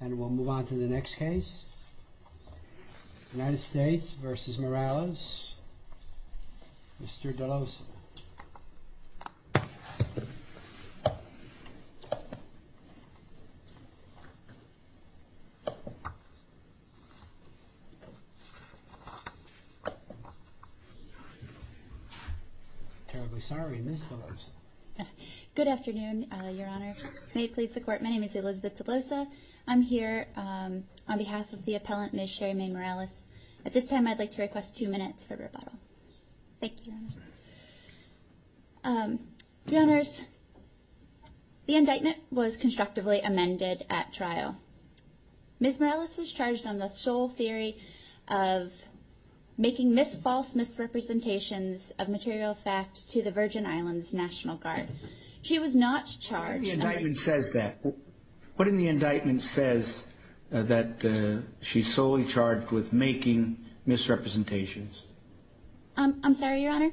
And we'll move on to the next case. United States v. Morales. Mr. DeLosa. Terribly sorry, Ms. DeLosa. Good afternoon, Your Honor. May it please the I'm here on behalf of the appellant, Ms. Sherrymae Morales. At this time, I'd like to request two minutes for rebuttal. Thank you. Your Honors, the indictment was constructively amended at trial. Ms. Morales was charged on the sole theory of making false misrepresentations of material fact to the Virgin Islands National Guard. She was not charged. What in the indictment says that? What in the indictment says that she's solely charged with making misrepresentations? I'm sorry, Your Honor.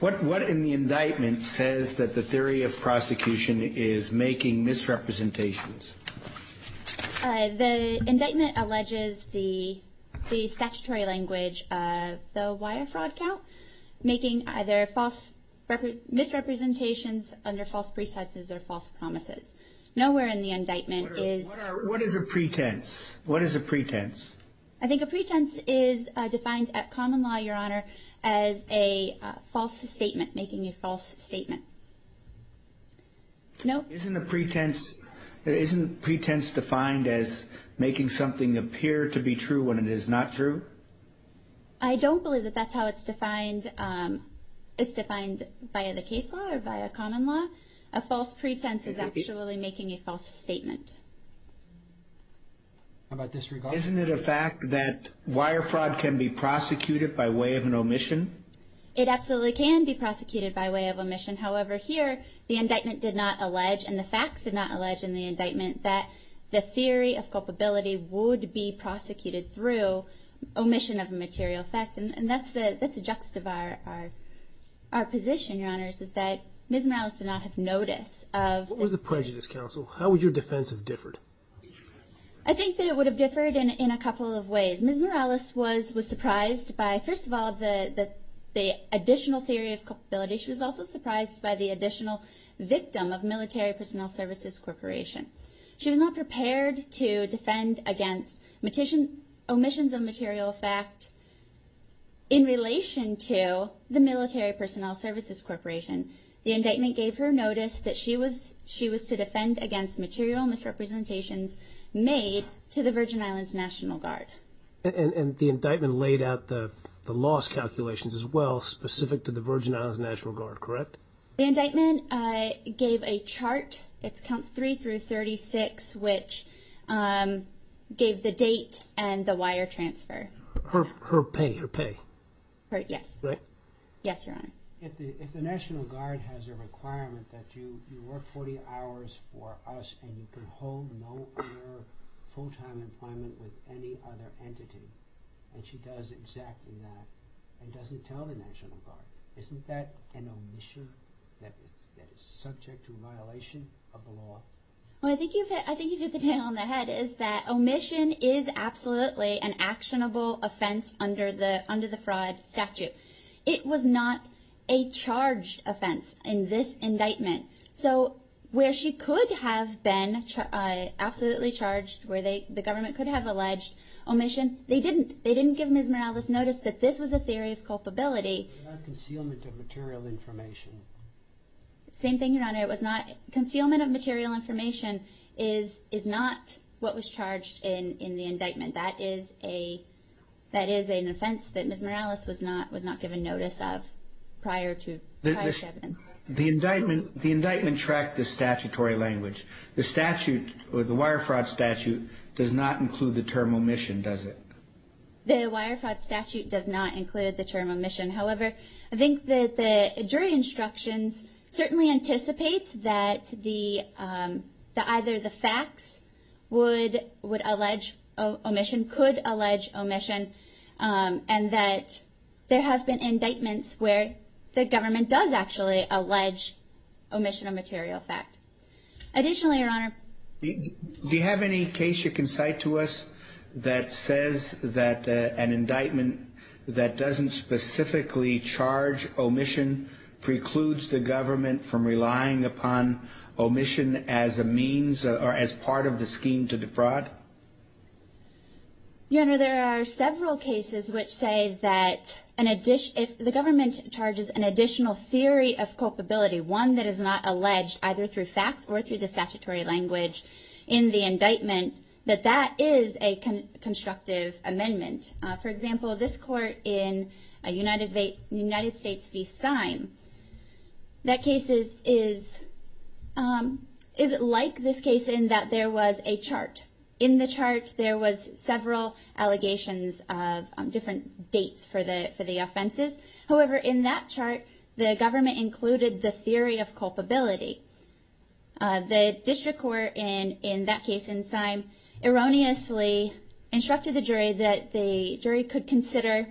What what in the indictment says that the theory of prosecution is making misrepresentations? The indictment alleges the the statutory language of the wire fraud count, making either false misrepresentations under false pretenses or false promises. Nowhere in the indictment is What is a pretense? What is a pretense? I think a pretense is defined at common law, Your Honor, as a false statement making a false statement. No. Isn't a pretense, isn't pretense defined as making something appear to be true when it is not true? I don't believe that that's how it's defined. It's defined by the case law or by a common law. A false pretense is actually making a false statement. How about disregard? Isn't it a fact that wire fraud can be prosecuted by way of an omission? It absolutely can be prosecuted by way of omission. However, here the indictment did not allege and the facts did not allege in the indictment that the theory of culpability would be prosecuted through omission of a material fact. And that's the that's a juxtapose. Our position, Your Honor, is that Ms. Morales did not have notice of What was the prejudice, counsel? How would your defense have differed? I think that it would have differed in a couple of ways. Ms. Morales was surprised by, first of all, the additional theory of culpability. She was also surprised by the additional victim of Military Personnel Services Corporation. She was not prepared to defend against omissions of material fact in relation to the Military Personnel Services Corporation. The indictment gave her notice that she was she was to defend against material misrepresentations made to the Virgin Islands National Guard. And the indictment laid out the loss calculations as well specific to the Virgin Islands National Guard, correct? The indictment gave a chart. It's counts three through 36, which gave the date and the wire transfer. Her pay, her pay. Correct? Yes. Yes, Your Honor. If the National Guard has a requirement that you work 40 hours for us, and you can hold no other full time employment with any other entity, and she does exactly that, and doesn't tell the National Guard, isn't that an omission that is subject to violation of the law? I think you've hit the nail on the head, is that omission is absolutely an actionable offense under the under the fraud statute. It was not a charged offense in this indictment. So where she could have been absolutely charged where the government could have alleged omission, they didn't. They didn't give Ms. Morales notice that this was a theory of culpability. Concealment of material information. Same thing, Your Honor. It was not concealment of material information is is not what was charged in in the indictment. That is a that is an offense that Ms. Morales was not was not given notice of prior to the indictment. The indictment tracked the statutory language. The statute or the wire fraud statute does not include the term omission, does it? The wire fraud statute does not include the term omission. However, I think that the jury instructions certainly anticipates that the either the facts would would allege omission, could allege omission, and that there have been indictments where the government does actually allege omission of material fact. Additionally, Your Honor, do you think that an indictment that doesn't specifically charge omission precludes the government from relying upon omission as a means or as part of the scheme to defraud? Your Honor, there are several cases which say that an addition if the government charges an additional theory of culpability, one that is not alleged either through facts or through the statutory language in the indictment. For example, this court in United States v. Syme, that case is like this case in that there was a chart. In the chart, there was several allegations of different dates for the jury could consider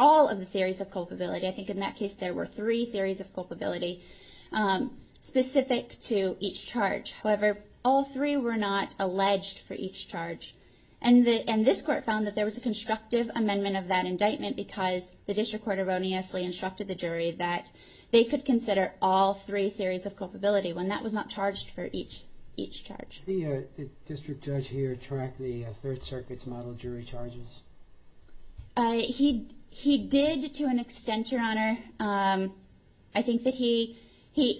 all of the theories of culpability. I think in that case, there were three theories of culpability specific to each charge. However, all three were not alleged for each charge. And this court found that there was a constructive amendment of that indictment because the district court erroneously instructed the jury that they could consider all three theories of culpability when that was not charged for each charge. Did the district judge here track the Third Circuit's model jury charges? He did to an extent, Your Honor. I think that he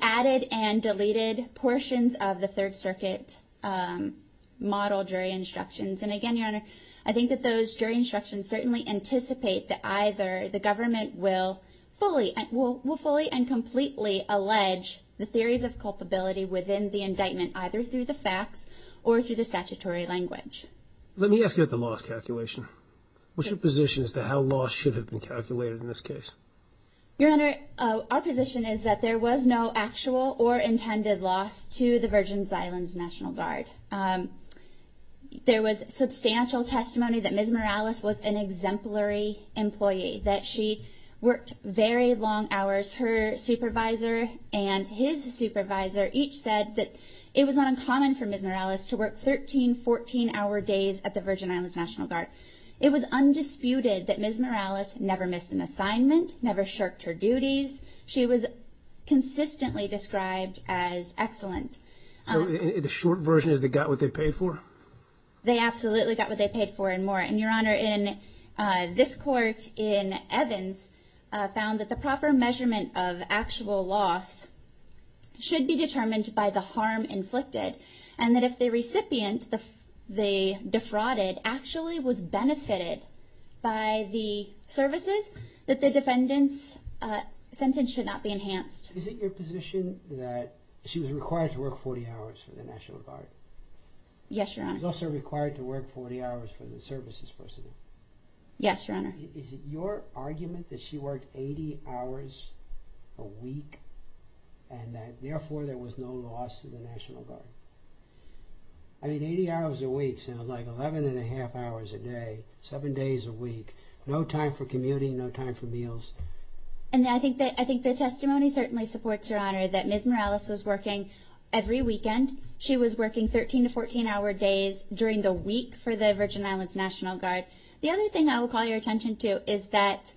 added and deleted portions of the Third Circuit model jury instructions. And again, Your Honor, I think that those jury instructions certainly anticipate that either the government will fully and completely allege the theories of culpability within the indictment either through the facts or through the statutory language. Let me ask you about the loss calculation. What's your position as to how loss should have been calculated in this case? Your Honor, our position is that there was no actual or intended loss to the Virgin Islands National Guard. There was substantial testimony that Ms. Morales was an exemplary employee, that she worked very long hours. Her supervisor and his supervisor each said that it was not uncommon for Ms. Morales to work 13, 14-hour days at the Virgin Islands National Guard. It was undisputed that Ms. Morales never missed an assignment, never shirked her duties. She was consistently described as excellent. So the short version is they got what they paid for? They absolutely got what they paid for and more. And Your Honor, this court in Evans found that the proper measurement of actual loss should be determined by the harm inflicted. And that if the recipient they defrauded actually was benefited by the services, that the defendant's sentence should not be enhanced. Is it your position that she was required to work 40 hours for the National Guard? Yes, Your Honor. She was also required to work 40 hours for the services personnel? Yes, Your Honor. Is it your argument that she worked 80 hours a week and that therefore there was no loss to the National Guard? I mean, 80 hours a week sounds like 11 and a half hours a day, seven days a week, no time for commuting, no time for meals. And I think the testimony certainly supports, Your Honor, that Ms. Morales was working every weekend. She was working 13 to 14 hour days during the week for the Virgin Islands National Guard. The other thing I will call your attention to is that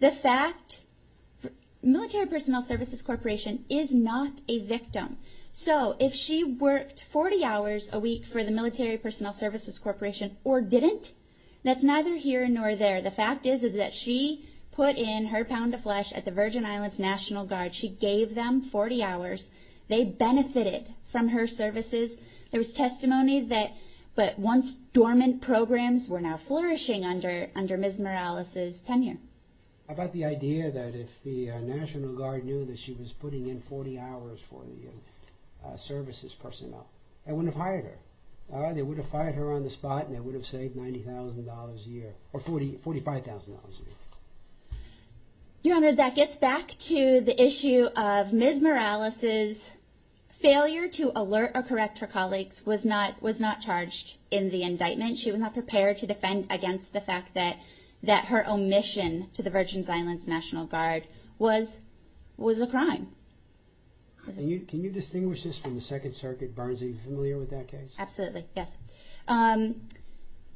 the fact, Military Personnel Services Corporation is not a victim. So if she worked 40 hours a week for the Military Personnel Services Corporation or didn't, that's neither here nor there. The fact is that she put in her pound of flesh at the Virgin Islands National Guard. She gave them 40 hours. They benefited from her services. There was testimony that once dormant programs were now flourishing under Ms. Morales' tenure. How about the idea that if the National Guard knew that she was putting in 40 hours for the services personnel, they wouldn't have hired her? They would have fired her on the spot and they would have saved $90,000 a year or $45,000 a year. Your Honor, that gets back to the issue of Ms. Morales' failure to alert or correct her colleagues was not charged in the indictment. She was not prepared to defend against the fact that her omission to the Virgin Islands National Guard was a crime. Can you distinguish this from the Second Circuit, Barnes? Are you familiar with that case? Absolutely,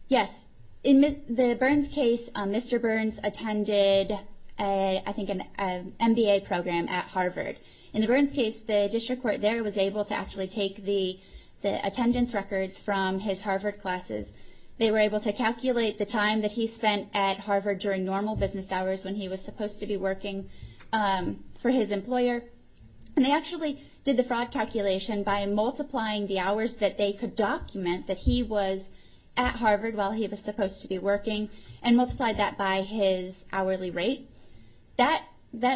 yes. In the Burns case, Mr. Burns attended an MBA program at Harvard. In the Burns case, the district court there was able to actually take the attendance records from his Harvard classes. They were able to calculate the time that he spent at Harvard during normal business hours when he was supposed to be working for his employer. They actually did the fraud calculation by multiplying the hours that they could document that he was at Harvard while he was supposed to be working and multiplied that by his hourly rate. That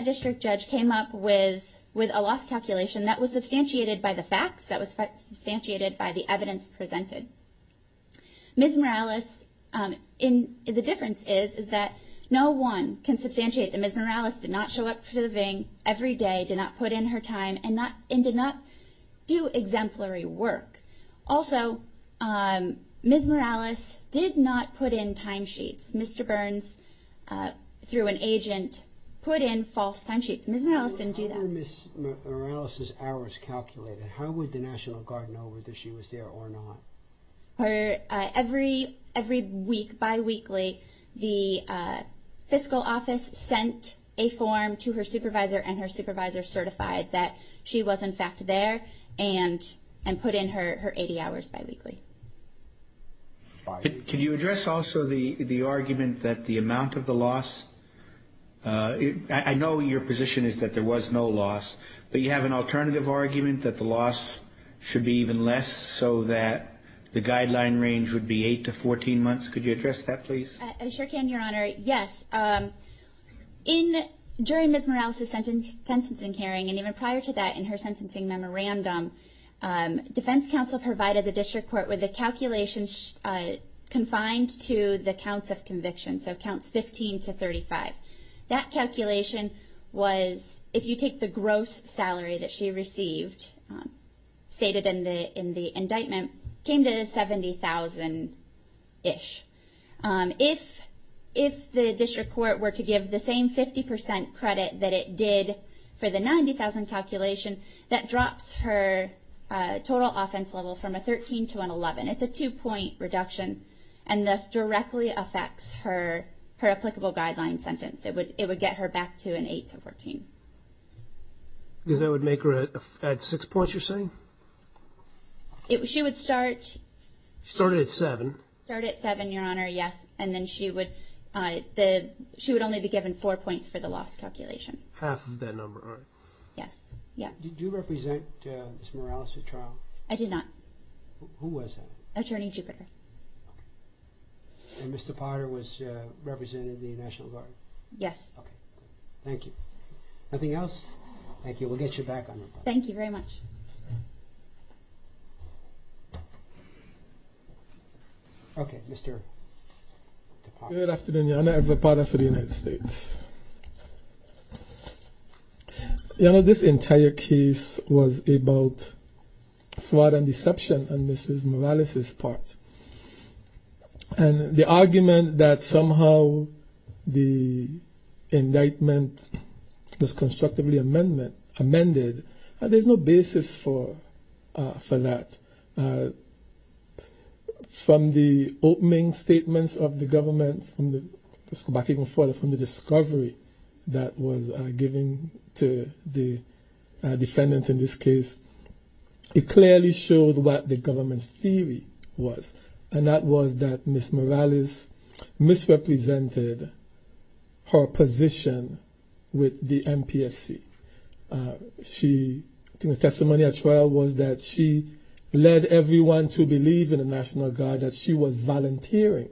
district judge came up with a loss calculation that was substantiated by the facts, that was substantiated by the evidence presented. Ms. Morales, the difference is that no one can substantiate that Ms. Morales did not show up to the Vang every day, did not put in her time, and did not do exemplary work. Also, Ms. Morales did not put in timesheets. Mr. Burns, through an agent, put in false timesheets. Ms. Morales didn't do that. How were Ms. Morales' hours calculated? How would the National Guard know whether she was there or not? Every week, bi-weekly, the fiscal office sent a form to her supervisor and her supervisor certified that she was in fact there and put in her 80 hours bi-weekly. Can you address also the argument that the amount of the loss, I know your position is that there was no loss, but you have an alternative argument that the loss should be even less so that the guideline range would be 8 to 14 months. Could you address that please? I sure can, Your Honor. Yes. During Ms. Morales' sentencing hearing and even prior to that in her sentencing memorandum, defense counsel provided the district court with a calculation confined to the counts of conviction, so counts 15 to 35. That calculation was, if you take the gross salary that she received stated in the indictment, came to $70,000-ish. If the district court were to give the same 50% credit that it did for the $90,000 calculation, that drops her total offense level from a 13 to an 11. It's a two-point reduction and thus directly affects her applicable guideline sentence. It would get her back to an 8 to 14. Because that would make her add six points, you're saying? She would start... She started at seven. Started at seven, Your Honor, yes, and then she would only be given four points for the loss calculation. Half of that number, all right. Yes. Did you represent Ms. Morales at trial? I did not. Who was that? Attorney Jupiter. And Mr. Potter was representing the National Guard? Yes. Okay, thank you. Nothing else? Thank you. We'll get you back on the phone. Thank you very much. Okay, Mr. Potter. Good afternoon, Your Honor. Edward Potter for the United States. Your Honor, this entire case was about fraud and deception on Ms. Morales' part. And the argument that somehow the indictment was constructively amended, there's no basis for that. From the opening statements of the government, from the discovery that was given to the defendant in this case, it clearly showed what the government's theory was. And that was that Ms. Morales misrepresented her position with the NPSC. The testimony at trial was that she led everyone to believe in the National Guard, that she was volunteering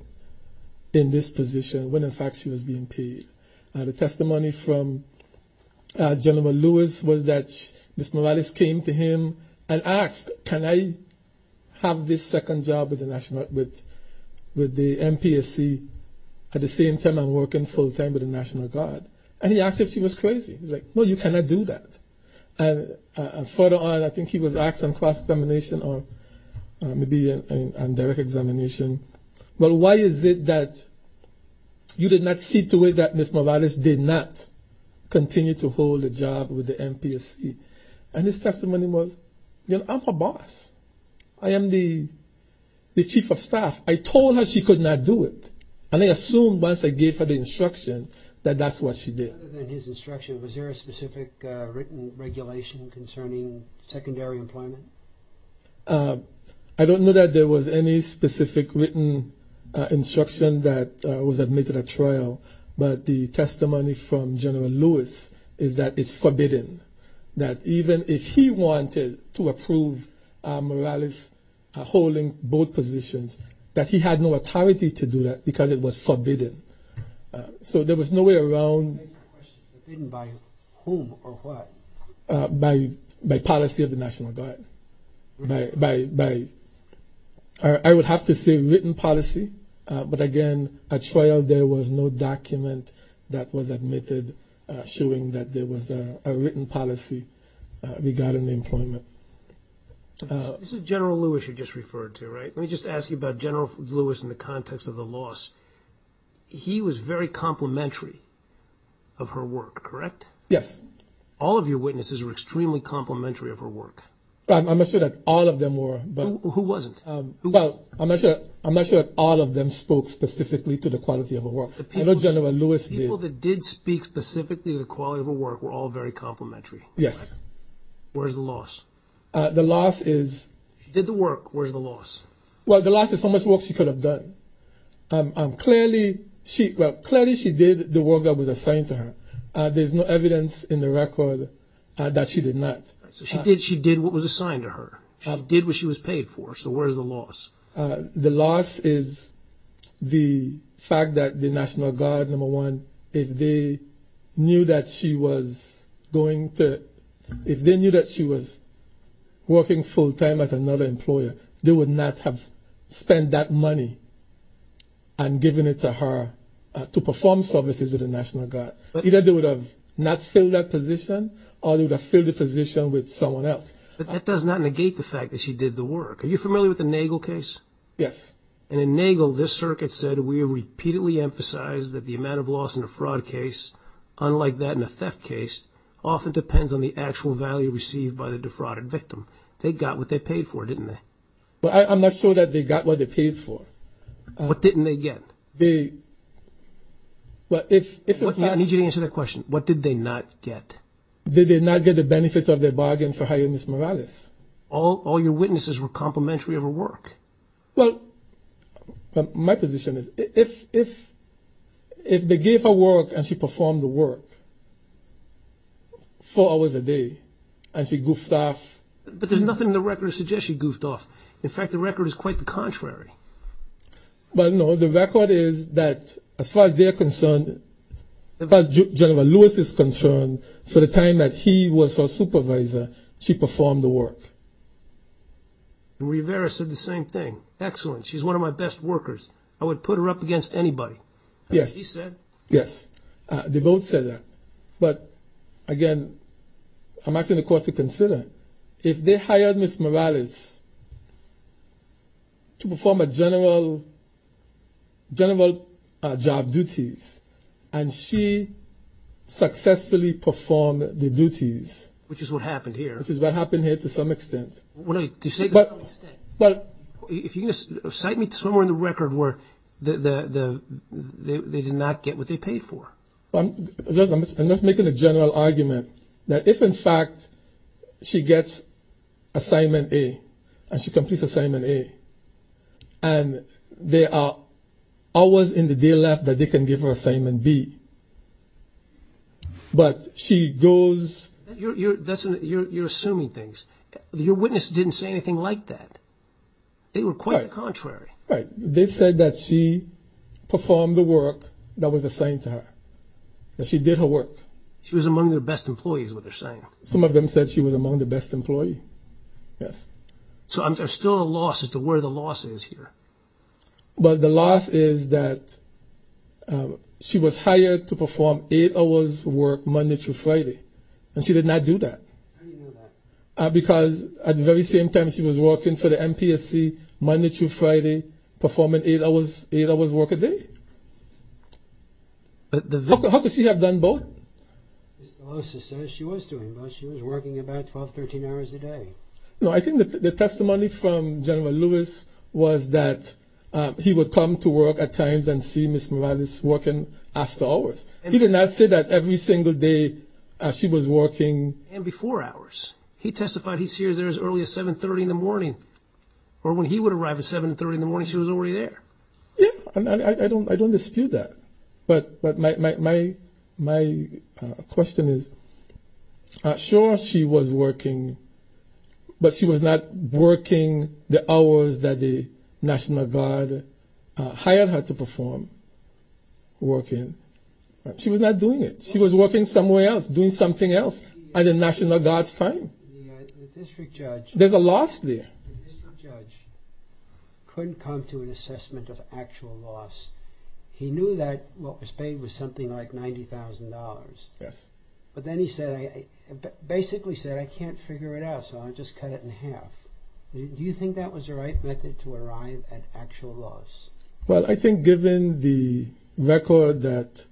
in this position when, in fact, she was being paid. The testimony from General Lewis was that Ms. Morales came to him and asked, can I have this second job with the NPSC at the same time I'm working full-time with the National Guard? And he asked if she was crazy. He was like, no, you cannot do that. And further on, I think he was asked on cross-examination or maybe on direct examination, well, why is it that you did not see to it that Ms. Morales did not continue to hold a job with the NPSC? And his testimony was, you know, I'm her boss. I am the chief of staff. I told her she could not do it, and I assumed once I gave her the instruction that that's what she did. Other than his instruction, was there a specific written regulation concerning secondary employment? I don't know that there was any specific written instruction that was admitted at trial, but the testimony from General Lewis is that it's forbidden, that even if he wanted to approve Morales holding both positions, that he had no authority to do that because it was forbidden. So there was no way around it. It's forbidden by whom or what? By policy of the National Guard. I would have to say written policy, but again, at trial there was no document that was admitted showing that there was a written policy regarding the employment. This is General Lewis you just referred to, right? Let me just ask you about General Lewis in the context of the loss. He was very complimentary of her work, correct? Yes. All of your witnesses were extremely complimentary of her work. I'm not sure that all of them were. Who wasn't? I'm not sure that all of them spoke specifically to the quality of her work. I know General Lewis did. The people that did speak specifically to the quality of her work were all very complimentary. Yes. Where's the loss? The loss is... She did the work. Where's the loss? Well, the loss is how much work she could have done. Clearly she did the work that was assigned to her. There's no evidence in the record that she did not. So she did what was assigned to her. She did what she was paid for. So where's the loss? The loss is the fact that the National Guard, number one, if they knew that she was working full-time at another employer, they would not have spent that money and given it to her to perform services with the National Guard. Either they would have not filled that position or they would have filled the position with someone else. But that does not negate the fact that she did the work. Are you familiar with the Nagel case? Yes. And in Nagel, this circuit said, we have repeatedly emphasized that the amount of loss in a fraud case, unlike that in a theft case, often depends on the actual value received by the defrauded victim. They got what they paid for, didn't they? I'm not sure that they got what they paid for. What didn't they get? I need you to answer that question. What did they not get? They did not get the benefits of their bargain for hiring Ms. Morales. All your witnesses were complimentary of her work. Well, my position is if they gave her work and she performed the work four hours a day and she goofed off. But there's nothing in the record that suggests she goofed off. Well, no, the record is that as far as they're concerned, as far as General Lewis is concerned, for the time that he was her supervisor, she performed the work. Rivera said the same thing. Excellent. She's one of my best workers. I would put her up against anybody. Yes. She said? Yes. They both said that. But, again, I'm asking the court to consider, if they hired Ms. Morales to perform general job duties and she successfully performed the duties. Which is what happened here. Which is what happened here to some extent. To some extent. If you can cite me somewhere in the record where they did not get what they paid for. I'm just making a general argument that if, in fact, she gets assignment A and she completes assignment A and there are hours in the day left that they can give her assignment B, but she goes... You're assuming things. Your witness didn't say anything like that. They were quite the contrary. Right. They said that she performed the work that was assigned to her. That she did her work. She was among their best employees is what they're saying. Some of them said she was among the best employee. Yes. So there's still a loss as to where the loss is here. But the loss is that she was hired to perform eight hours' work Monday through Friday. And she did not do that. How do you know that? Because at the very same time she was working for the MPSC Monday through Friday, performing eight hours' work a day. How could she have done both? She was doing both. She was working about 12, 13 hours a day. No, I think the testimony from General Lewis was that he would come to work at times and see Ms. Morales working after hours. He did not say that every single day she was working... He testified he'd see her there as early as 730 in the morning. Or when he would arrive at 730 in the morning she was already there. Yes, I don't dispute that. But my question is, sure she was working, but she was not working the hours that the National Guard hired her to perform working. She was not doing it. She was working somewhere else, doing something else at the National Guard's time. The district judge... There's a loss there. The district judge couldn't come to an assessment of actual loss. He knew that what was paid was something like $90,000. Yes. But then he basically said, I can't figure it out, so I'll just cut it in half. Do you think that was the right method to arrive at actual loss? Well, I think given the record that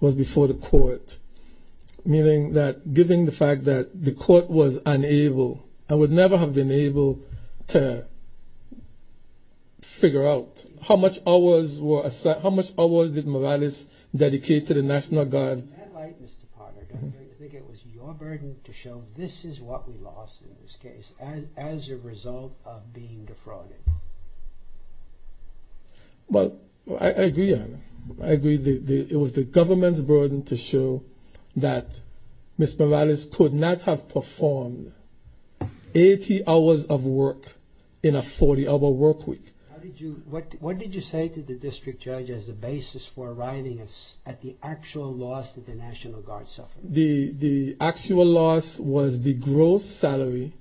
was before the court, meaning that given the fact that the court was unable, and would never have been able to figure out how much hours did Morales dedicate to the National Guard. In that light, Mr. Potter, do you think it was your burden to show this is what we lost in this case, as a result of being defrauded? Well, I agree. I agree it was the government's burden to show that Ms. Morales could not have performed 80 hours of work in a 40-hour work week. What did you say to the district judge as a basis for arriving at the actual loss that the National Guard suffered? The actual loss was the gross salary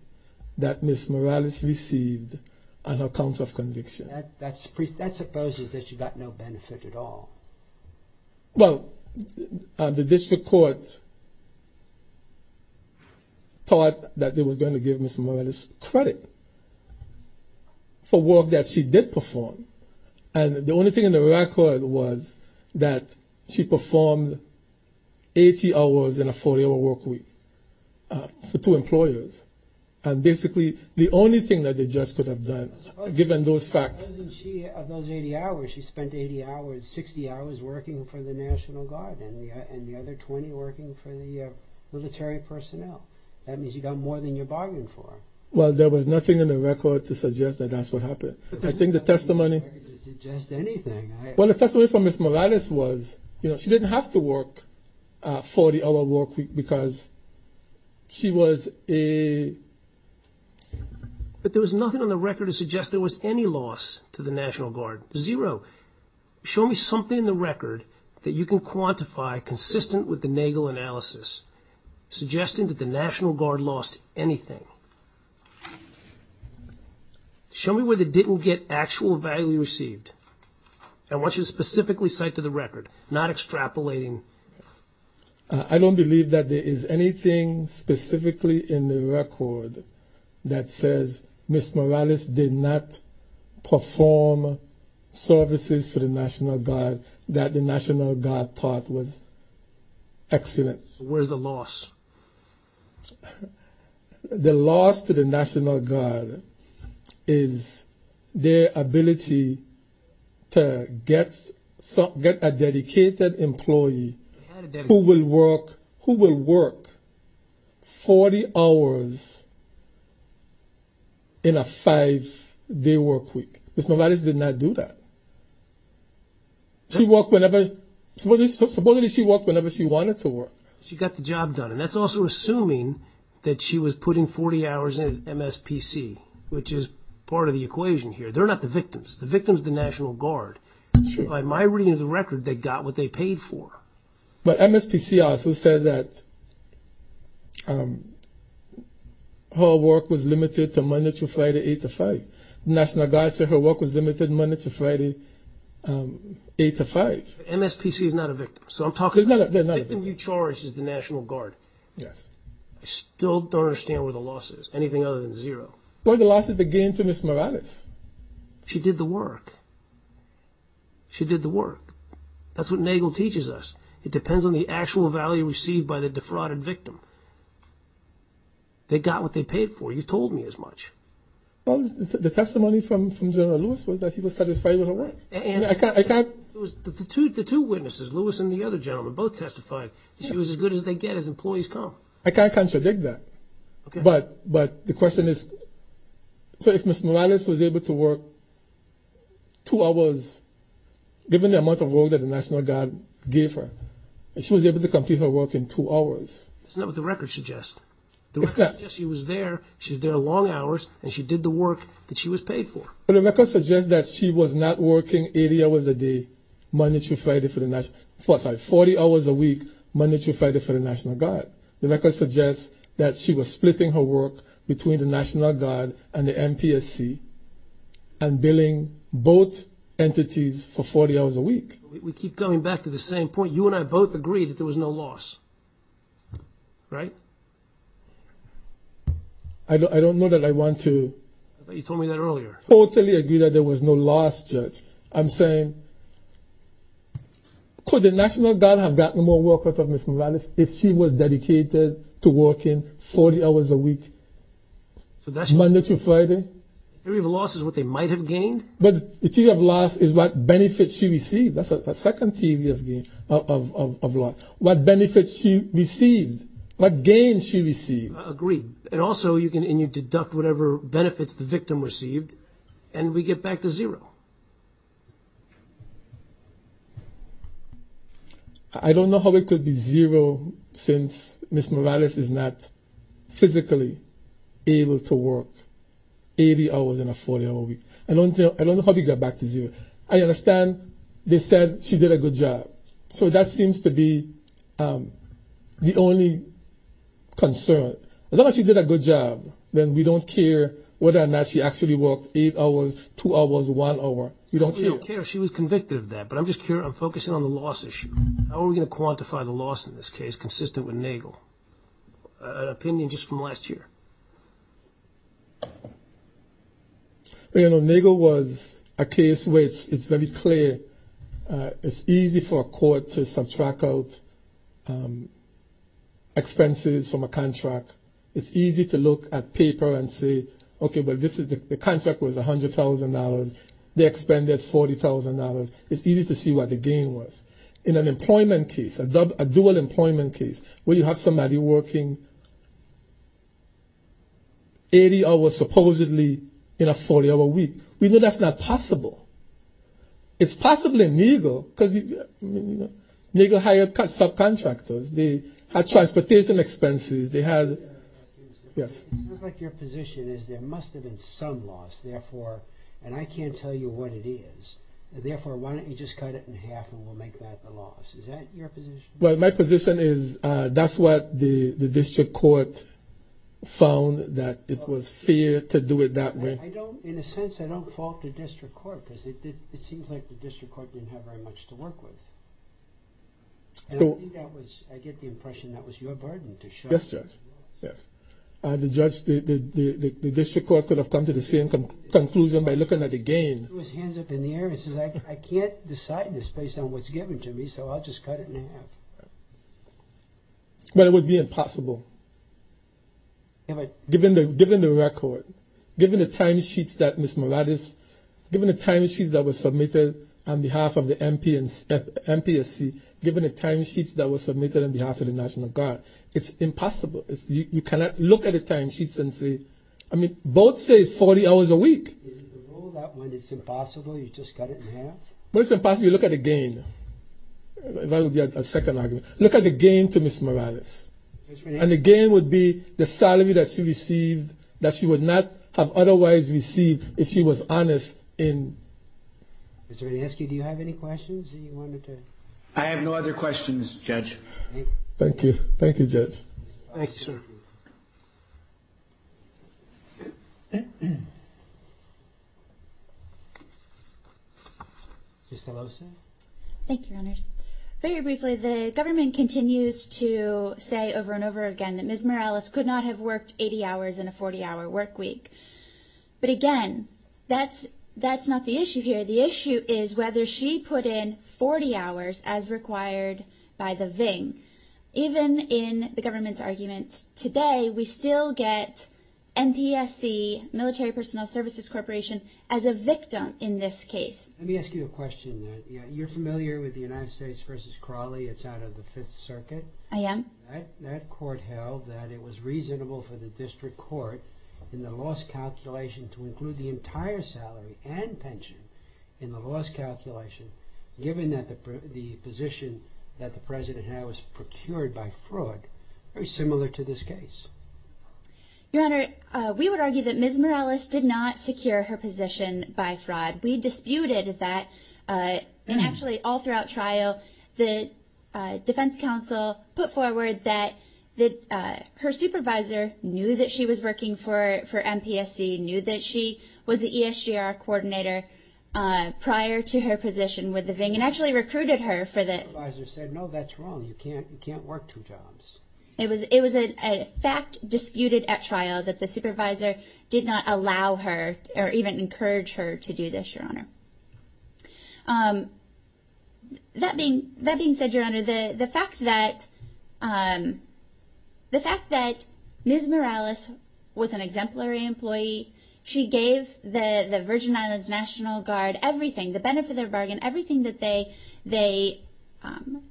that Ms. Morales received on account of conviction. That supposes that she got no benefit at all. Well, the district court thought that they were going to give Ms. Morales credit for work that she did perform. And the only thing in the record was that she performed 80 hours in a 40-hour work week for two employers. And basically, the only thing that the judge could have done, given those facts... Supposing she, of those 80 hours, she spent 80 hours, 60 hours working for the National Guard, and the other 20 working for the military personnel. That means you got more than you bargained for. Well, there was nothing in the record to suggest that that's what happened. I think the testimony... There's nothing in the record to suggest anything. Well, the testimony from Ms. Morales was, you know, she didn't have to work a 40-hour work week because she was a... But there was nothing on the record to suggest there was any loss to the National Guard. Zero. Show me something in the record that you can quantify consistent with the Nagel analysis suggesting that the National Guard lost anything. Show me where they didn't get actual value received. I want you to specifically cite to the record, not extrapolating. I don't believe that there is anything specifically in the record that says Ms. Morales did not perform services for the National Guard, that the National Guard thought was excellent. Where's the loss? The loss to the National Guard is their ability to get a dedicated employee who will work 40 hours in a five-day work week. Ms. Morales did not do that. She worked whenever... Supposedly she worked whenever she wanted to work. She got the job done. And that's also assuming that she was putting 40 hours in MSPC, which is part of the equation here. They're not the victims. The victims are the National Guard. By my reading of the record, they got what they paid for. But MSPC also said that her work was limited to Monday through Friday, 8 to 5. The National Guard said her work was limited Monday through Friday, 8 to 5. MSPC is not a victim. So I'm talking... They're not a victim. The victim you charged is the National Guard. Yes. I still don't understand where the loss is, anything other than zero. Well, the loss is the gain to Ms. Morales. She did the work. She did the work. That's what NAGLE teaches us. It depends on the actual value received by the defrauded victim. They got what they paid for. You've told me as much. Well, the testimony from General Lewis was that he was satisfied with her work. I can't... The two witnesses, Lewis and the other gentleman, both testified that she was as good as they get as employees come. I can't contradict that. Okay. But the question is, so if Ms. Morales was able to work two hours, given the amount of work that the National Guard gave her, if she was able to complete her work in two hours... That's not what the record suggests. The record suggests she was there. She was there long hours, and she did the work that she was paid for. But the record suggests that she was not working 80 hours a day, monetarified for the National... I'm sorry, 40 hours a week, monetarified for the National Guard. The record suggests that she was splitting her work between the National Guard and the NPSC and billing both entities for 40 hours a week. We keep coming back to the same point. You and I both agree that there was no loss, right? I don't know that I want to... I thought you told me that earlier. Totally agree that there was no loss, Judge. I'm saying, could the National Guard have gotten more work out of Ms. Morales if she was dedicated to working 40 hours a week, monetarified? Theory of loss is what they might have gained. But the theory of loss is what benefits she received. That's a second theory of loss. What benefits she received, what gains she received. Agreed. And also, you can deduct whatever benefits the victim received, and we get back to zero. I don't know how it could be zero since Ms. Morales is not physically able to work 80 hours in a 40-hour week. I don't know how we get back to zero. I understand they said she did a good job. So that seems to be the only concern. As long as she did a good job, then we don't care whether or not she actually worked 8 hours, 2 hours, 1 hour. We don't care. We don't care if she was convicted of that, but I'm just curious. I'm focusing on the loss issue. How are we going to quantify the loss in this case, consistent with Nagel? An opinion just from last year. You know, Nagel was a case where it's very clear. It's easy for a court to subtract out expenses from a contract. It's easy to look at paper and say, okay, but the contract was $100,000. They expended $40,000. It's easy to see what the gain was. In an employment case, a dual employment case, where you have somebody working 80 hours supposedly in a 40-hour week, we know that's not possible. It's possible in Nagel because Nagel hired subcontractors. They had transportation expenses. They had... Yes. It sounds like your position is there must have been some loss, therefore, and I can't tell you what it is, therefore, why don't you just cut it in half and we'll make that the loss. Is that your position? Well, my position is that's what the district court found, that it was fair to do it that way. In a sense, I don't fault the district court because it seems like the district court didn't have very much to work with. I get the impression that was your burden to show. Yes, Judge. Yes. The district court could have come to the same conclusion by looking at the gain. He threw his hands up in the air and says, I can't decide this based on what's given to me, so I'll just cut it in half. But it would be impossible. Given the record, given the timesheets that Ms. Moradis, given the timesheets that were submitted on behalf of the MPSC, given the timesheets that were submitted on behalf of the National Guard, it's impossible. You cannot look at the timesheets and say, I mean, both say it's 40 hours a week. Is it the rule that when it's impossible, you just cut it in half? When it's impossible, you look at the gain. That would be a second argument. Look at the gain to Ms. Moradis. And the gain would be the salary that she received that she would not have otherwise received if she was honest in... Mr. Hanesky, do you have any questions that you wanted to... I have no other questions, Judge. Thank you. Thank you. Thank you, Judge. Thank you, sir. Ms. DeLosa. Thank you, Your Honors. Very briefly, the government continues to say over and over again that Ms. Moradis could not have worked 80 hours in a 40-hour work week. But again, that's not the issue here. The issue is whether she put in 40 hours as required by the VING. Even in the government's argument today, we still get NPSC, Military Personnel Services Corporation, as a victim in this case. Let me ask you a question. You're familiar with the United States v. Crowley. It's out of the Fifth Circuit. I am. That court held that it was reasonable for the district court in the loss calculation to include the entire salary and pension in the loss calculation, given that the position that the President had was procured by fraud, very similar to this case. Your Honor, we would argue that Ms. Moradis did not secure her position by fraud. We disputed that. And actually, all throughout trial, the defense counsel put forward that her supervisor knew that she was working for NPSC, knew that she was the ESGR coordinator prior to her position with the VING, and actually recruited her for the – The supervisor said, no, that's wrong. You can't work two jobs. It was a fact disputed at trial that the supervisor did not allow her or even encourage her to do this, Your Honor. That being said, Your Honor, the fact that Ms. Moradis was an exemplary employee, she gave the Virgin Islands National Guard everything, the benefit of their bargain, everything that they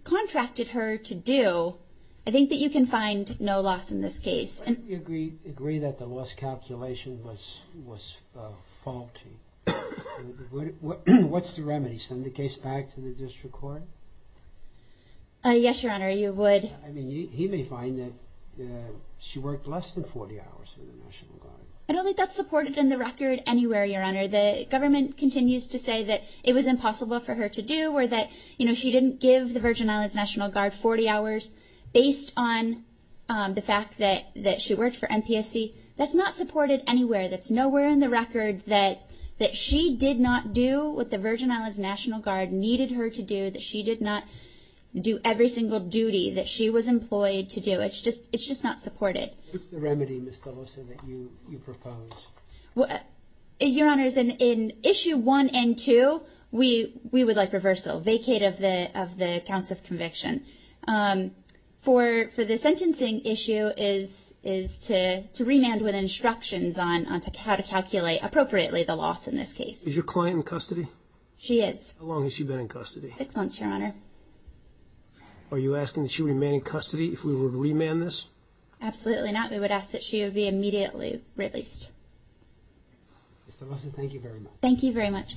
contracted her to do. I think that you can find no loss in this case. Why didn't you agree that the loss calculation was faulty? What's the remedy? Send the case back to the district court? Yes, Your Honor, you would. I mean, he may find that she worked less than 40 hours for the National Guard. I don't think that's supported in the record anywhere, Your Honor. The government continues to say that it was impossible for her to do or that, you know, 40 hours based on the fact that she worked for NPSC. That's not supported anywhere. That's nowhere in the record that she did not do what the Virgin Islands National Guard needed her to do, that she did not do every single duty that she was employed to do. It's just not supported. What's the remedy, Ms. Delosa, that you propose? Your Honors, in issue one and two, we would like reversal, vacate of the counts of conviction. For the sentencing issue is to remand with instructions on how to calculate appropriately the loss in this case. Is your client in custody? She is. How long has she been in custody? Six months, Your Honor. Are you asking that she remain in custody if we were to remand this? Absolutely not. We would ask that she be immediately released. Ms. Delosa, thank you very much. Thank you very much.